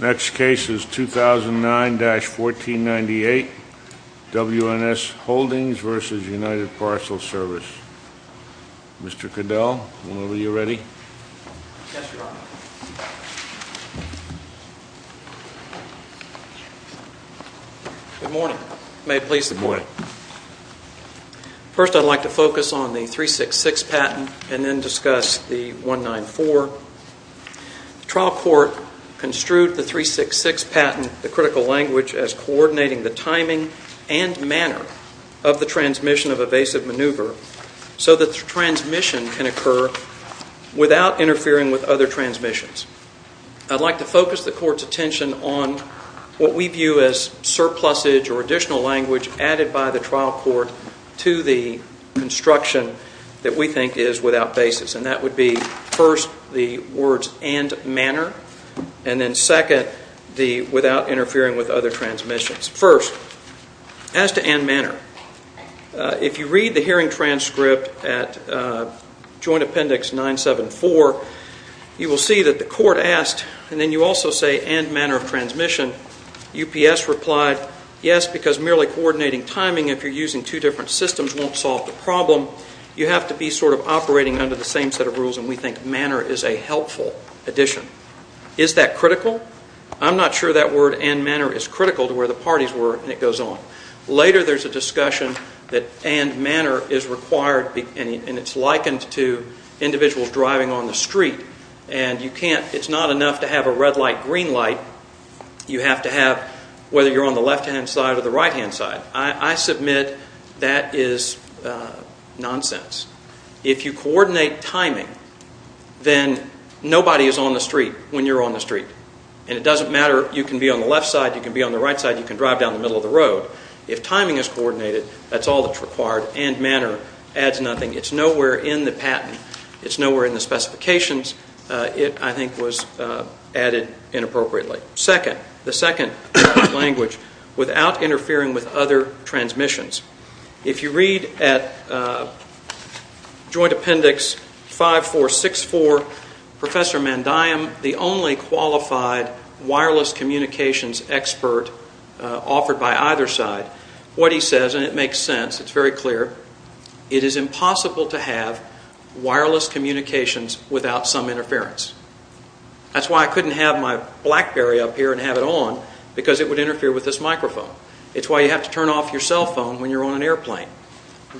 Next case is 2009-1492. WNS Holdings v. United Parcel Service Mr. Cadell, whenever you're ready. Yes, Your Honor. Good morning. May it please the Court. Good morning. First, I'd like to focus on the 366 patent and then discuss the 194. The trial court construed the 366 patent, the critical language, as coordinating the timing and manner of the transmission of evasive maneuver so that the transmission can occur without interfering with other transmissions. I'd like to focus the Court's attention on what we view as surplusage or additional language added by the trial court to the construction that we think is without basis, and that would be, first, the words, and manner, and then, second, the without interfering with other transmissions. First, as to and manner, if you read the hearing transcript at Joint Appendix 974, you will see that the Court asked, and then you also say, and manner of transmission. UPS replied, yes, because merely coordinating timing, if you're using two different systems, won't solve the problem. You have to be sort of operating under the same set of rules, and we think manner is a helpful addition. Is that critical? I'm not sure that word, and manner, is critical to where the parties were, and it goes on. Later, there's a discussion that and manner is required, and it's likened to individuals driving on the street, and it's not enough to have a red light, green light. You have to have, whether you're on the left-hand side or the right-hand side. I submit that is nonsense. If you coordinate timing, then nobody is on the street when you're on the street, and it doesn't matter, you can be on the left side, you can be on the right side, you can drive down the middle of the road. If timing is coordinated, that's all that's required, and manner adds nothing. It's nowhere in the patent. It's nowhere in the specifications. It, I think, was added inappropriately. The second language, without interfering with other transmissions. If you read at Joint Appendix 5464, Professor Mandiam, the only qualified wireless communications expert offered by either side, what he says, and it makes sense, it's very clear, it is impossible to have wireless communications without some interference. That's why I couldn't have my BlackBerry up here and have it on, because it would interfere with this microphone. It's why you have to turn off your cell phone when you're on an airplane.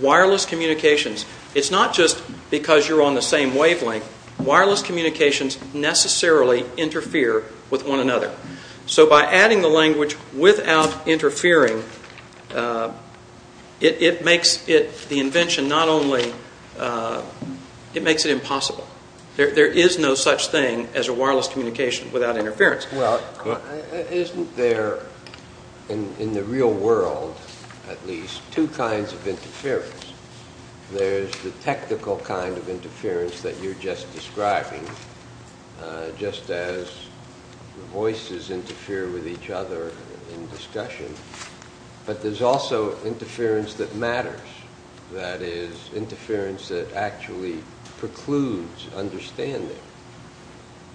Wireless communications, it's not just because you're on the same wavelength, wireless communications necessarily interfere with one another. So by adding the language without interfering, it makes it, the invention, not only, it makes it impossible. There is no such thing as a wireless communication without interference. Well, isn't there, in the real world at least, two kinds of interference? There's the technical kind of interference that you're just describing, just as the voices interfere with each other in discussion, but there's also interference that matters. That is, interference that actually precludes understanding.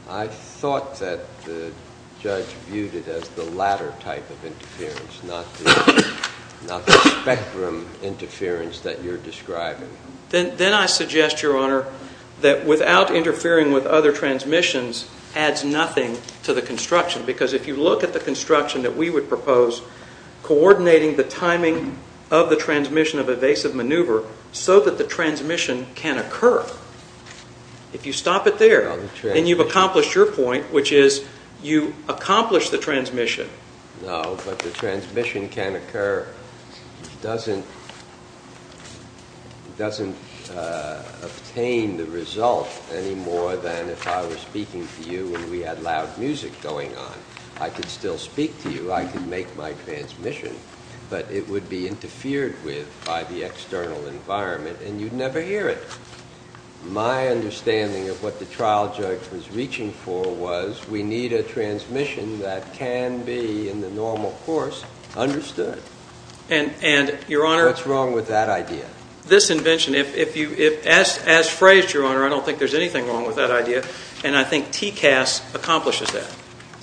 I thought that the judge viewed it as the latter type of interference, not the spectrum interference that you're describing. Then I suggest, Your Honor, that without interfering with other transmissions adds nothing to the construction, because if you look at the construction that we would propose, coordinating the timing of the transmission of evasive maneuver so that the transmission can occur. If you stop it there, then you've accomplished your point, which is you accomplished the transmission. No, but the transmission can occur doesn't obtain the result any more than if I were speaking to you and we had loud music going on. I could still speak to you, I could make my transmission, but it would be interfered with by the external environment and you'd never hear it. My understanding of what the trial judge was reaching for was we need a transmission that can be, in the normal course, understood. What's wrong with that idea? This invention, as phrased, Your Honor, I don't think there's anything wrong with that idea, and I think TCAS accomplishes that.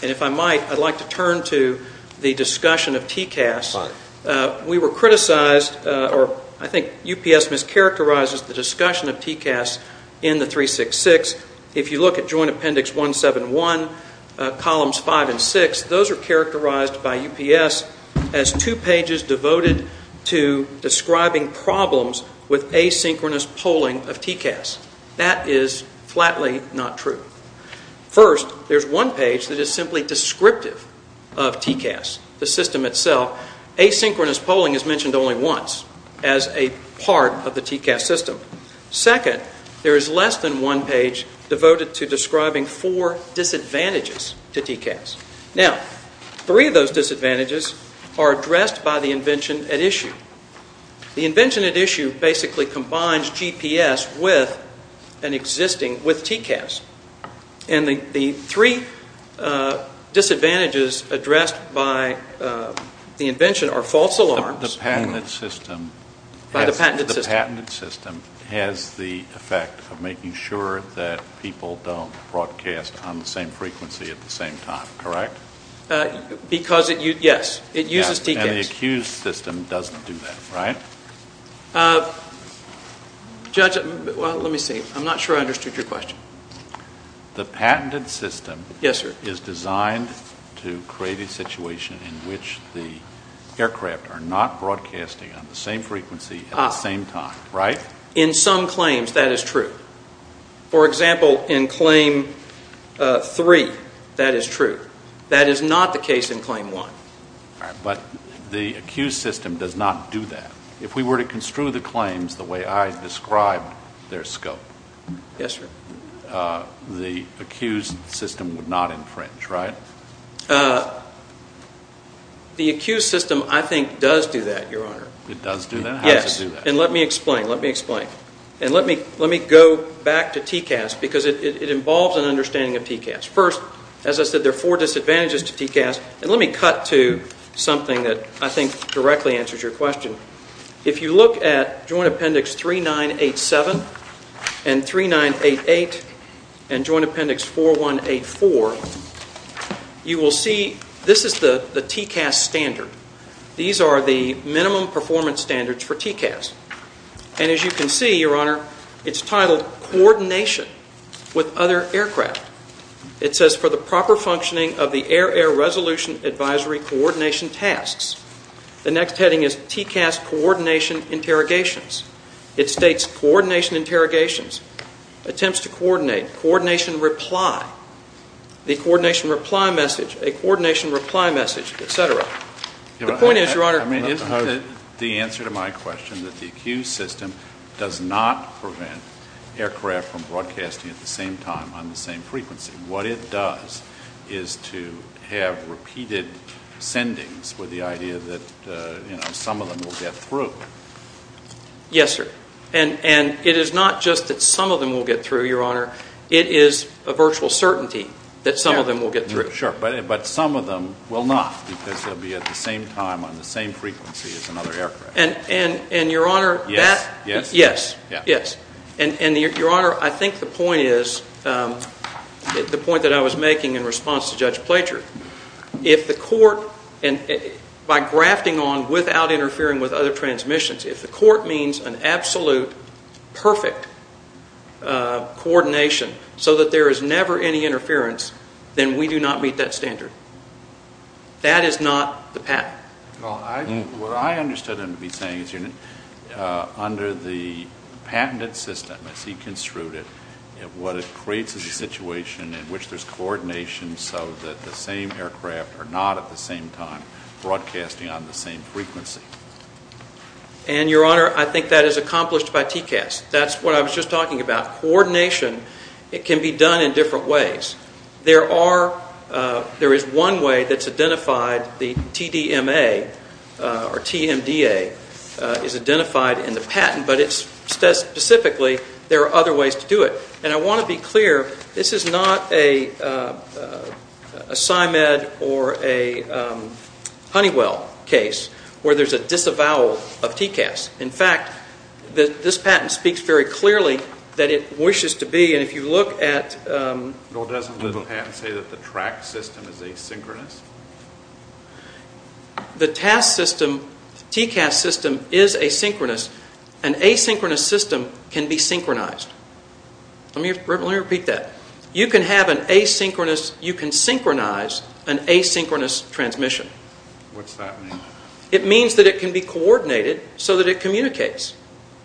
If I might, I'd like to turn to the discussion of TCAS. We were criticized, or I think UPS mischaracterizes, the discussion of TCAS in the 366. If you look at Joint Appendix 171, Columns 5 and 6, those are characterized by UPS as two pages devoted to describing problems with asynchronous polling of TCAS. That is flatly not true. First, there's one page that is simply descriptive of TCAS, the system itself. Asynchronous polling is mentioned only once as a part of the TCAS system. Second, there is less than one page devoted to describing four disadvantages to TCAS. Now, three of those disadvantages are addressed by the invention at issue. The invention at issue basically combines GPS with an existing, with TCAS. And the three disadvantages addressed by the invention are false alarms. The patented system has the effect of making sure that people don't broadcast on the same frequency at the same time, correct? Because, yes, it uses TCAS. And the accused system doesn't do that, right? Judge, let me see. I'm not sure I understood your question. The patented system is designed to create a situation in which the aircraft are not broadcasting on the same frequency at the same time, right? In some claims, that is true. For example, in Claim 3, that is true. That is not the case in Claim 1. But the accused system does not do that. If we were to construe the claims the way I described their scope, the accused system would not infringe, right? The accused system, I think, does do that, Your Honor. It does do that? How does it do that? Yes. And let me explain. Let me explain. And let me go back to TCAS because it involves an understanding of TCAS. First, as I said, there are four disadvantages to TCAS. And let me cut to something that I think directly answers your question. If you look at Joint Appendix 3987 and 3988 and Joint Appendix 4184, you will see this is the TCAS standard. These are the minimum performance standards for TCAS. And as you can see, Your Honor, it's titled Coordination with Other Aircraft. It says, For the Proper Functioning of the Air-Air Resolution Advisory Coordination Tasks. The next heading is TCAS Coordination Interrogations. It states Coordination Interrogations, Attempts to Coordinate, Coordination Reply, the Coordination Reply Message, a Coordination Reply Message, et cetera. The point is, Your Honor, I mean, isn't it the answer to my question that the accused system does not prevent aircraft from broadcasting at the same time on the same frequency? What it does is to have repeated sendings with the idea that, you know, some of them will get through. Yes, sir. And it is not just that some of them will get through, Your Honor. It is a virtual certainty that some of them will get through. Sure. But some of them will not because they'll be at the same time on the same frequency as another aircraft. And, Your Honor, that – Yes. Yes. Yes. And, Your Honor, I think the point is, the point that I was making in response to Judge Plature, if the court, by grafting on without interfering with other transmissions, if the court means an absolute perfect coordination so that there is never any interference, then we do not meet that standard. That is not the pattern. Well, what I understood him to be saying is under the patented system, as he construed it, what it creates is a situation in which there's coordination so that the same aircraft are not at the same time broadcasting on the same frequency. And, Your Honor, I think that is accomplished by TCAS. That's what I was just talking about. Coordination, it can be done in different ways. There are – there is one way that's identified, the TDMA or TMDA, is identified in the patent, but it's specifically there are other ways to do it. And I want to be clear, this is not a SIMED or a Honeywell case where there's a disavowal of TCAS. In fact, this patent speaks very clearly that it wishes to be, and if you look at – Well, doesn't the patent say that the TRAC system is asynchronous? The TAS system, TCAS system, is asynchronous. An asynchronous system can be synchronized. Let me repeat that. You can have an asynchronous – you can synchronize an asynchronous transmission. What's that mean? It means that it can be coordinated so that it communicates.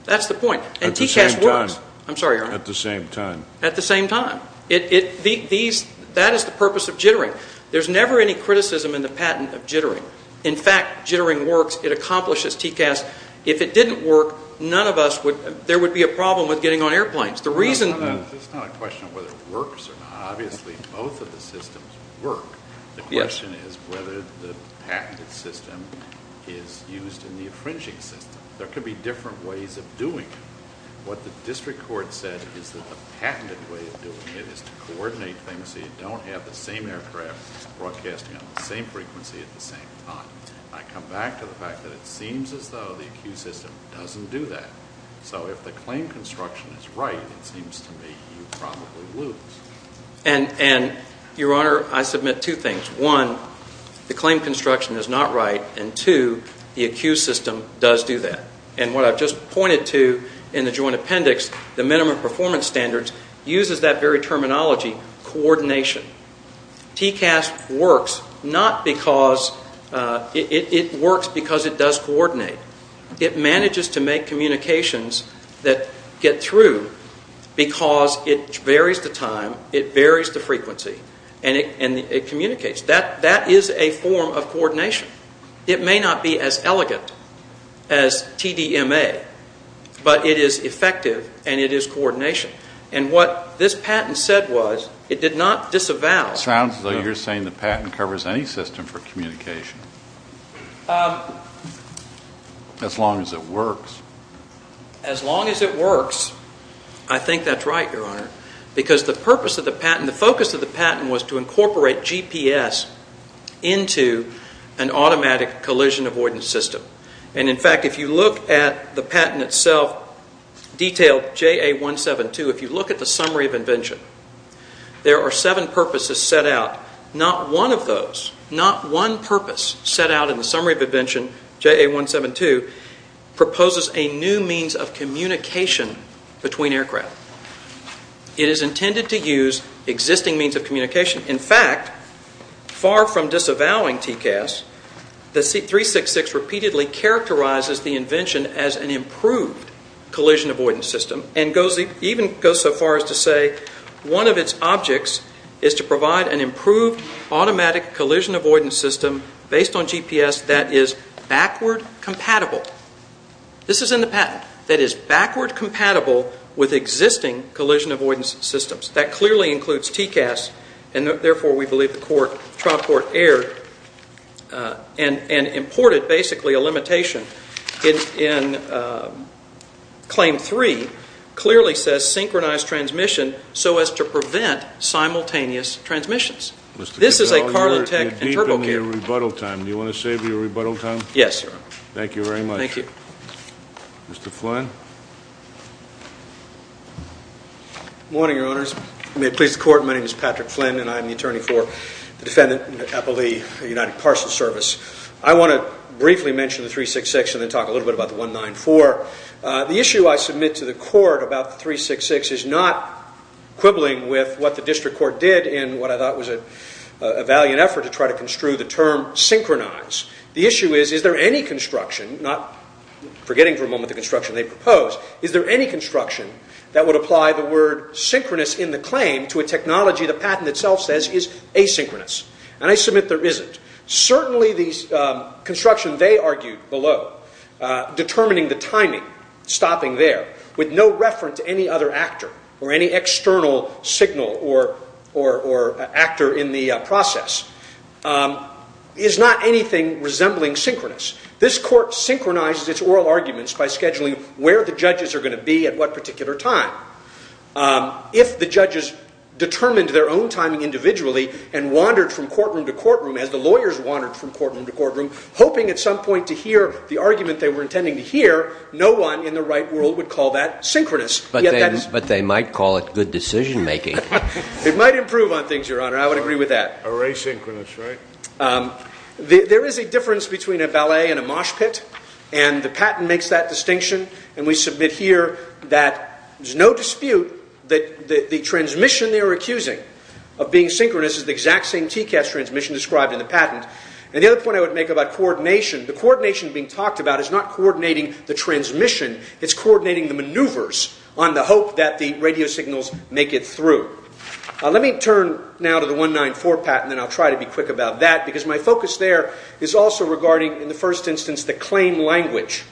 That's the point. At the same time. And TCAS works. I'm sorry, Your Honor. At the same time. At the same time. That is the purpose of jittering. There's never any criticism in the patent of jittering. In fact, jittering works. It accomplishes TCAS. If it didn't work, none of us would – there would be a problem with getting on airplanes. The reason – It's not a question of whether it works or not. Obviously, both of the systems work. The question is whether the patented system is used in the infringing system. There could be different ways of doing it. What the district court said is that the patented way of doing it is to coordinate things so you don't have the same aircraft broadcasting on the same frequency at the same time. I come back to the fact that it seems as though the accused system doesn't do that. So if the claim construction is right, it seems to me you probably lose. And, Your Honor, I submit two things. One, the claim construction is not right. And, two, the accused system does do that. And what I've just pointed to in the joint appendix, the minimum performance standards, uses that very terminology, coordination. TCAS works not because – it works because it does coordinate. It manages to make communications that get through because it varies the time, it varies the frequency, and it communicates. That is a form of coordination. It may not be as elegant as TDMA, but it is effective and it is coordination. And what this patent said was it did not disavow. It sounds as though you're saying the patent covers any system for communication as long as it works. As long as it works, I think that's right, Your Honor, because the purpose of the patent, the focus of the patent was to incorporate GPS into an automatic collision avoidance system. And, in fact, if you look at the patent itself, detailed JA172, if you look at the summary of invention, there are seven purposes set out. Not one of those, not one purpose set out in the summary of invention, JA172, proposes a new means of communication between aircraft. It is intended to use existing means of communication. In fact, far from disavowing TCAS, the 366 repeatedly characterizes the invention as an improved collision avoidance system and even goes so far as to say one of its objects is to provide an improved automatic collision avoidance system based on GPS that is backward compatible. This is in the patent, that is backward compatible with existing collision avoidance systems. That clearly includes TCAS, and therefore we believe the trial court erred and imported basically a limitation in Claim 3, clearly says synchronized transmission so as to prevent simultaneous transmissions. This is a cargo tech and turbo kit. You're deep in your rebuttal time. Do you want to save your rebuttal time? Yes, Your Honor. Thank you very much. Thank you. Mr. Flynn. Good morning, Your Honors. May it please the Court, my name is Patrick Flynn and I'm the attorney for the Defendant in the Appellee United Parcel Service. I want to briefly mention the 366 and then talk a little bit about the 194. The issue I submit to the Court about the 366 is not quibbling with what the district court did in what I thought was a valiant effort to try to construe the term synchronize. The issue is, is there any construction, not forgetting for a moment the construction they proposed, is there any construction that would apply the word synchronous in the claim to a technology the patent itself says is asynchronous? And I submit there isn't. Certainly the construction they argued below, determining the timing, stopping there, with no reference to any other actor or any external signal or actor in the process, is not anything resembling synchronous. This Court synchronizes its oral arguments by scheduling where the judges are going to be at what particular time. If the judges determined their own timing individually and wandered from courtroom to courtroom, as the lawyers wandered from courtroom to courtroom, hoping at some point to hear the argument they were intending to hear, no one in the right world would call that synchronous. But they might call it good decision-making. It might improve on things, Your Honor. I would agree with that. Or asynchronous, right? There is a difference between a ballet and a mosh pit, and the patent makes that distinction. And we submit here that there's no dispute that the transmission they're accusing of being synchronous is the exact same TCAS transmission described in the patent. And the other point I would make about coordination, the coordination being talked about is not coordinating the transmission. It's coordinating the maneuvers on the hope that the radio signals make it through. Let me turn now to the 194 patent, and I'll try to be quick about that, because my focus there is also regarding, in the first instance, the claim language.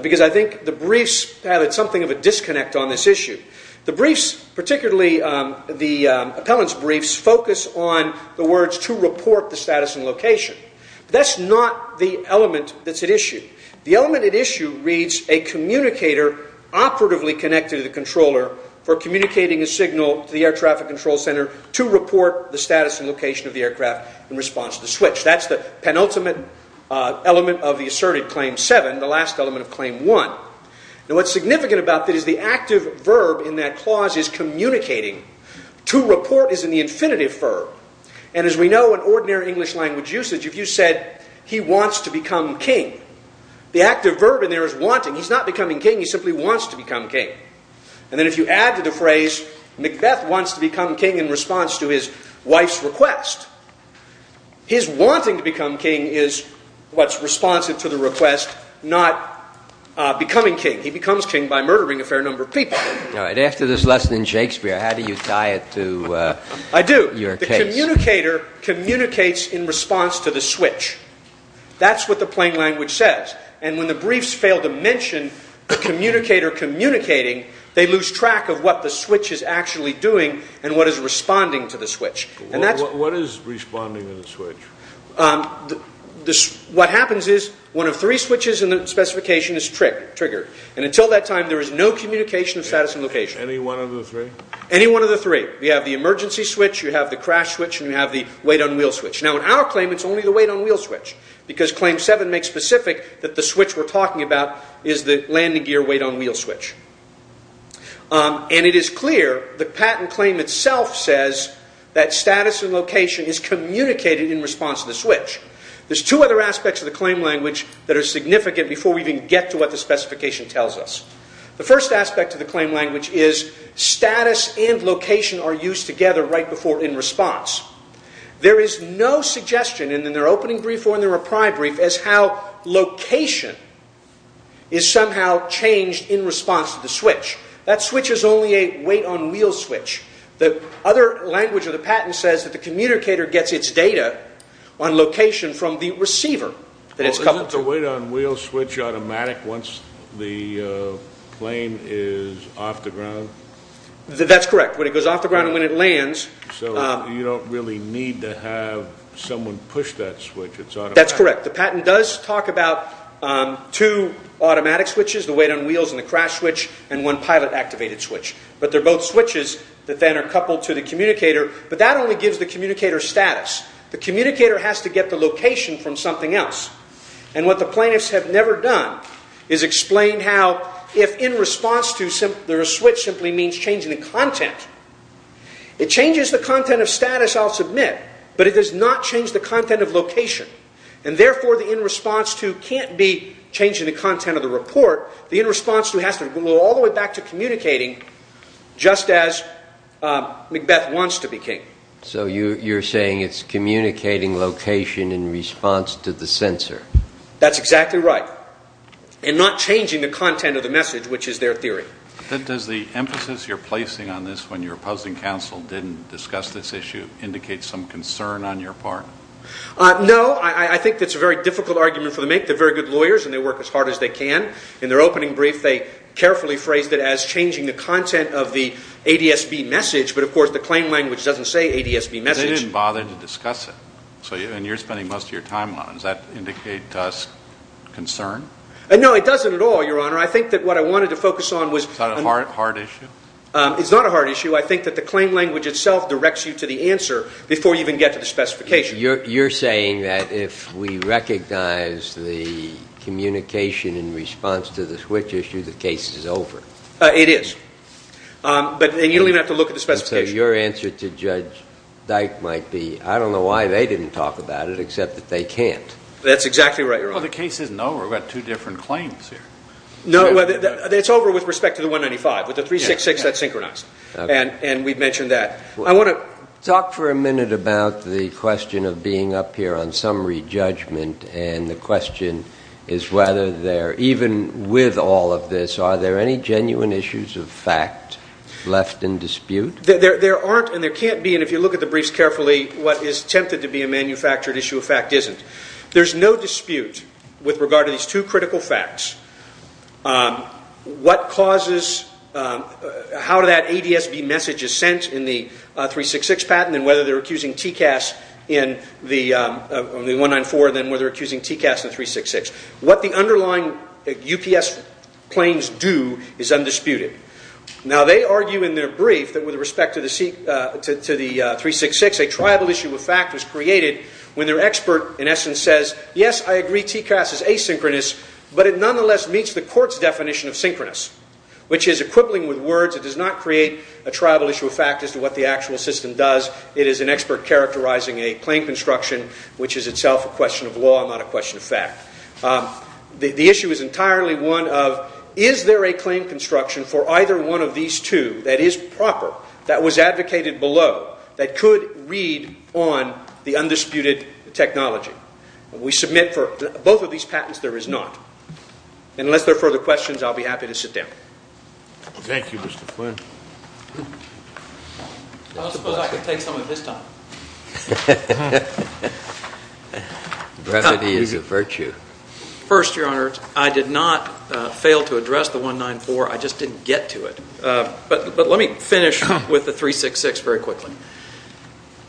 Because I think the briefs have something of a disconnect on this issue. The briefs, particularly the appellant's briefs, focus on the words, to report the status and location. That's not the element that's at issue. The element at issue reads a communicator operatively connected to the controller for communicating a signal to the air traffic control center to report the status and location of the aircraft in response to the switch. That's the penultimate element of the asserted Claim 7, the last element of Claim 1. Now, what's significant about that is the active verb in that clause is communicating. To report is in the infinitive verb. And as we know, in ordinary English language usage, if you said, he wants to become king, the active verb in there is wanting. He's not becoming king. He simply wants to become king. And then if you add to the phrase, Macbeth wants to become king in response to his wife's request, his wanting to become king is what's responsive to the request, not becoming king. He becomes king by murdering a fair number of people. All right. After this lesson in Shakespeare, how do you tie it to your king? The communicator communicates in response to the switch. That's what the plain language says. And when the briefs fail to mention the communicator communicating, they lose track of what the switch is actually doing and what is responding to the switch. What is responding to the switch? What happens is one of three switches in the specification is triggered. And until that time, there is no communication of status and location. Any one of the three? Any one of the three. You have the emergency switch. You have the crash switch. And you have the weight on wheel switch. Now, in our claim, it's only the weight on wheel switch because Claim 7 makes specific that the switch we're talking about is the landing gear weight on wheel switch. And it is clear the patent claim itself says that status and location is communicated in response to the switch. There's two other aspects of the claim language that are significant before we even get to what the specification tells us. The first aspect of the claim language is status and location are used together right before in response. There is no suggestion in their opening brief or in their reply brief as how location is somehow changed in response to the switch. That switch is only a weight on wheel switch. The other language of the patent says that the communicator gets its data on location from the receiver that it's coupled to. Isn't the weight on wheel switch automatic once the plane is off the ground? That's correct. When it goes off the ground and when it lands. So you don't really need to have someone push that switch. It's automatic. That's correct. The patent does talk about two automatic switches, the weight on wheels and the crash switch, and one pilot activated switch. But they're both switches that then are coupled to the communicator. But that only gives the communicator status. The communicator has to get the location from something else. And what the plaintiffs have never done is explain how if in response to, the switch simply means changing the content. It changes the content of status, I'll submit, but it does not change the content of location. And therefore, the in response to can't be changing the content of the report. The in response to has to go all the way back to communicating just as Macbeth wants to be king. So you're saying it's communicating location in response to the sensor. That's exactly right. And not changing the content of the message, which is their theory. Does the emphasis you're placing on this when you're opposing counsel didn't discuss this issue indicate some concern on your part? No. I think that's a very difficult argument for them to make. They're very good lawyers and they work as hard as they can. In their opening brief, they carefully phrased it as changing the content of the ADSB message. But, of course, the claim language doesn't say ADSB message. They didn't bother to discuss it. And you're spending most of your time on it. Does that indicate to us concern? No, it doesn't at all, Your Honor. I think that what I wanted to focus on was. Is that a hard issue? It's not a hard issue. I think that the claim language itself directs you to the answer before you even get to the specification. You're saying that if we recognize the communication in response to the switch issue, the case is over. It is. And you don't even have to look at the specification. So your answer to Judge Dyke might be, I don't know why they didn't talk about it except that they can't. That's exactly right, Your Honor. Well, the case isn't over. We've got two different claims here. No, it's over with respect to the 195. With the 366, that's synchronized. And we've mentioned that. I want to talk for a minute about the question of being up here on summary judgment and the question is whether there, even with all of this, are there any genuine issues of fact left in dispute? There aren't and there can't be. And if you look at the briefs carefully, what is tempted to be a manufactured issue of fact isn't. There's no dispute with regard to these two critical facts. What causes how that ADSB message is sent in the 366 patent and whether they're accusing TCAS in the 194 and then whether they're accusing TCAS in the 366. What the underlying UPS claims do is undisputed. Now, they argue in their brief that with respect to the 366, a triable issue of fact was created when their expert, in essence, says, yes, I agree TCAS is asynchronous, but it nonetheless meets the court's definition of synchronous, which is a quibbling with words. It does not create a triable issue of fact as to what the actual system does. It is an expert characterizing a claim construction, which is itself a question of law, not a question of fact. The issue is entirely one of, is there a claim construction for either one of these two that is proper, that was advocated below, that could read on the undisputed technology? And we submit for both of these patents there is not. Unless there are further questions, I'll be happy to sit down. Thank you, Mr. Flynn. I don't suppose I could take some of his time. Brevity is a virtue. First, Your Honor, I did not fail to address the 194. I just didn't get to it. But let me finish with the 366 very quickly.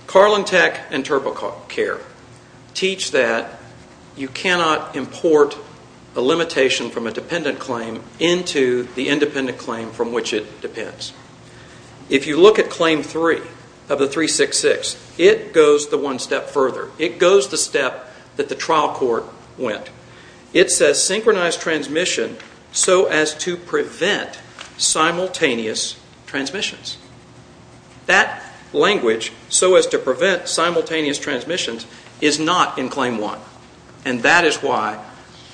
Carlin Tech and TurboCare teach that you cannot import a limitation from a dependent claim into the independent claim from which it depends. If you look at Claim 3 of the 366, it goes the one step further. It goes the step that the trial court went. It says, Synchronized transmission so as to prevent simultaneous transmissions. That language, so as to prevent simultaneous transmissions, is not in Claim 1. And that is why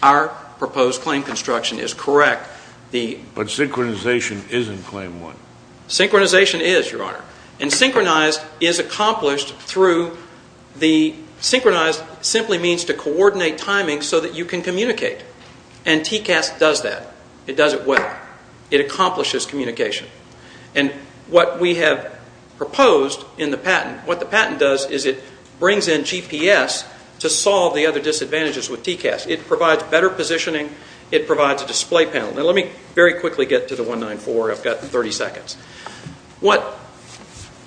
our proposed claim construction is correct. But synchronization is in Claim 1. Synchronization is, Your Honor. And synchronized is accomplished through the synchronized simply means to coordinate timing so that you can communicate. And TCAS does that. It does it well. It accomplishes communication. And what we have proposed in the patent, what the patent does is it brings in GPS to solve the other disadvantages with TCAS. It provides better positioning. It provides a display panel. Now, let me very quickly get to the 194. I've got 30 seconds. What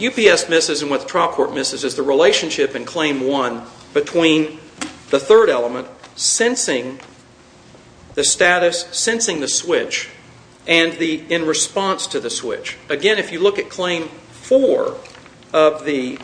UPS misses and what the trial court misses is the relationship in Claim 1 between the third element, sensing the status, sensing the switch, and in response to the switch. Again, if you look at Claim 4 of the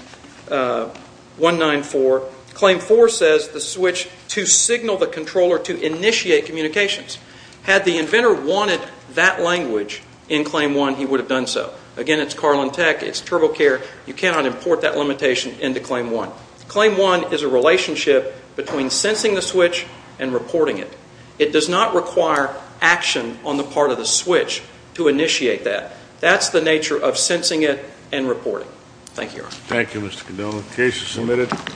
194, Claim 4 says the switch to signal the controller to initiate communications. Had the inventor wanted that language in Claim 1, he would have done so. Again, it's Carlin Tech. It's TurboCare. You cannot import that limitation into Claim 1. Claim 1 is a relationship between sensing the switch and reporting it. It does not require action on the part of the switch to initiate that. That's the nature of sensing it and reporting. Thank you, Your Honor. Thank you, Mr. Condola. The case is submitted.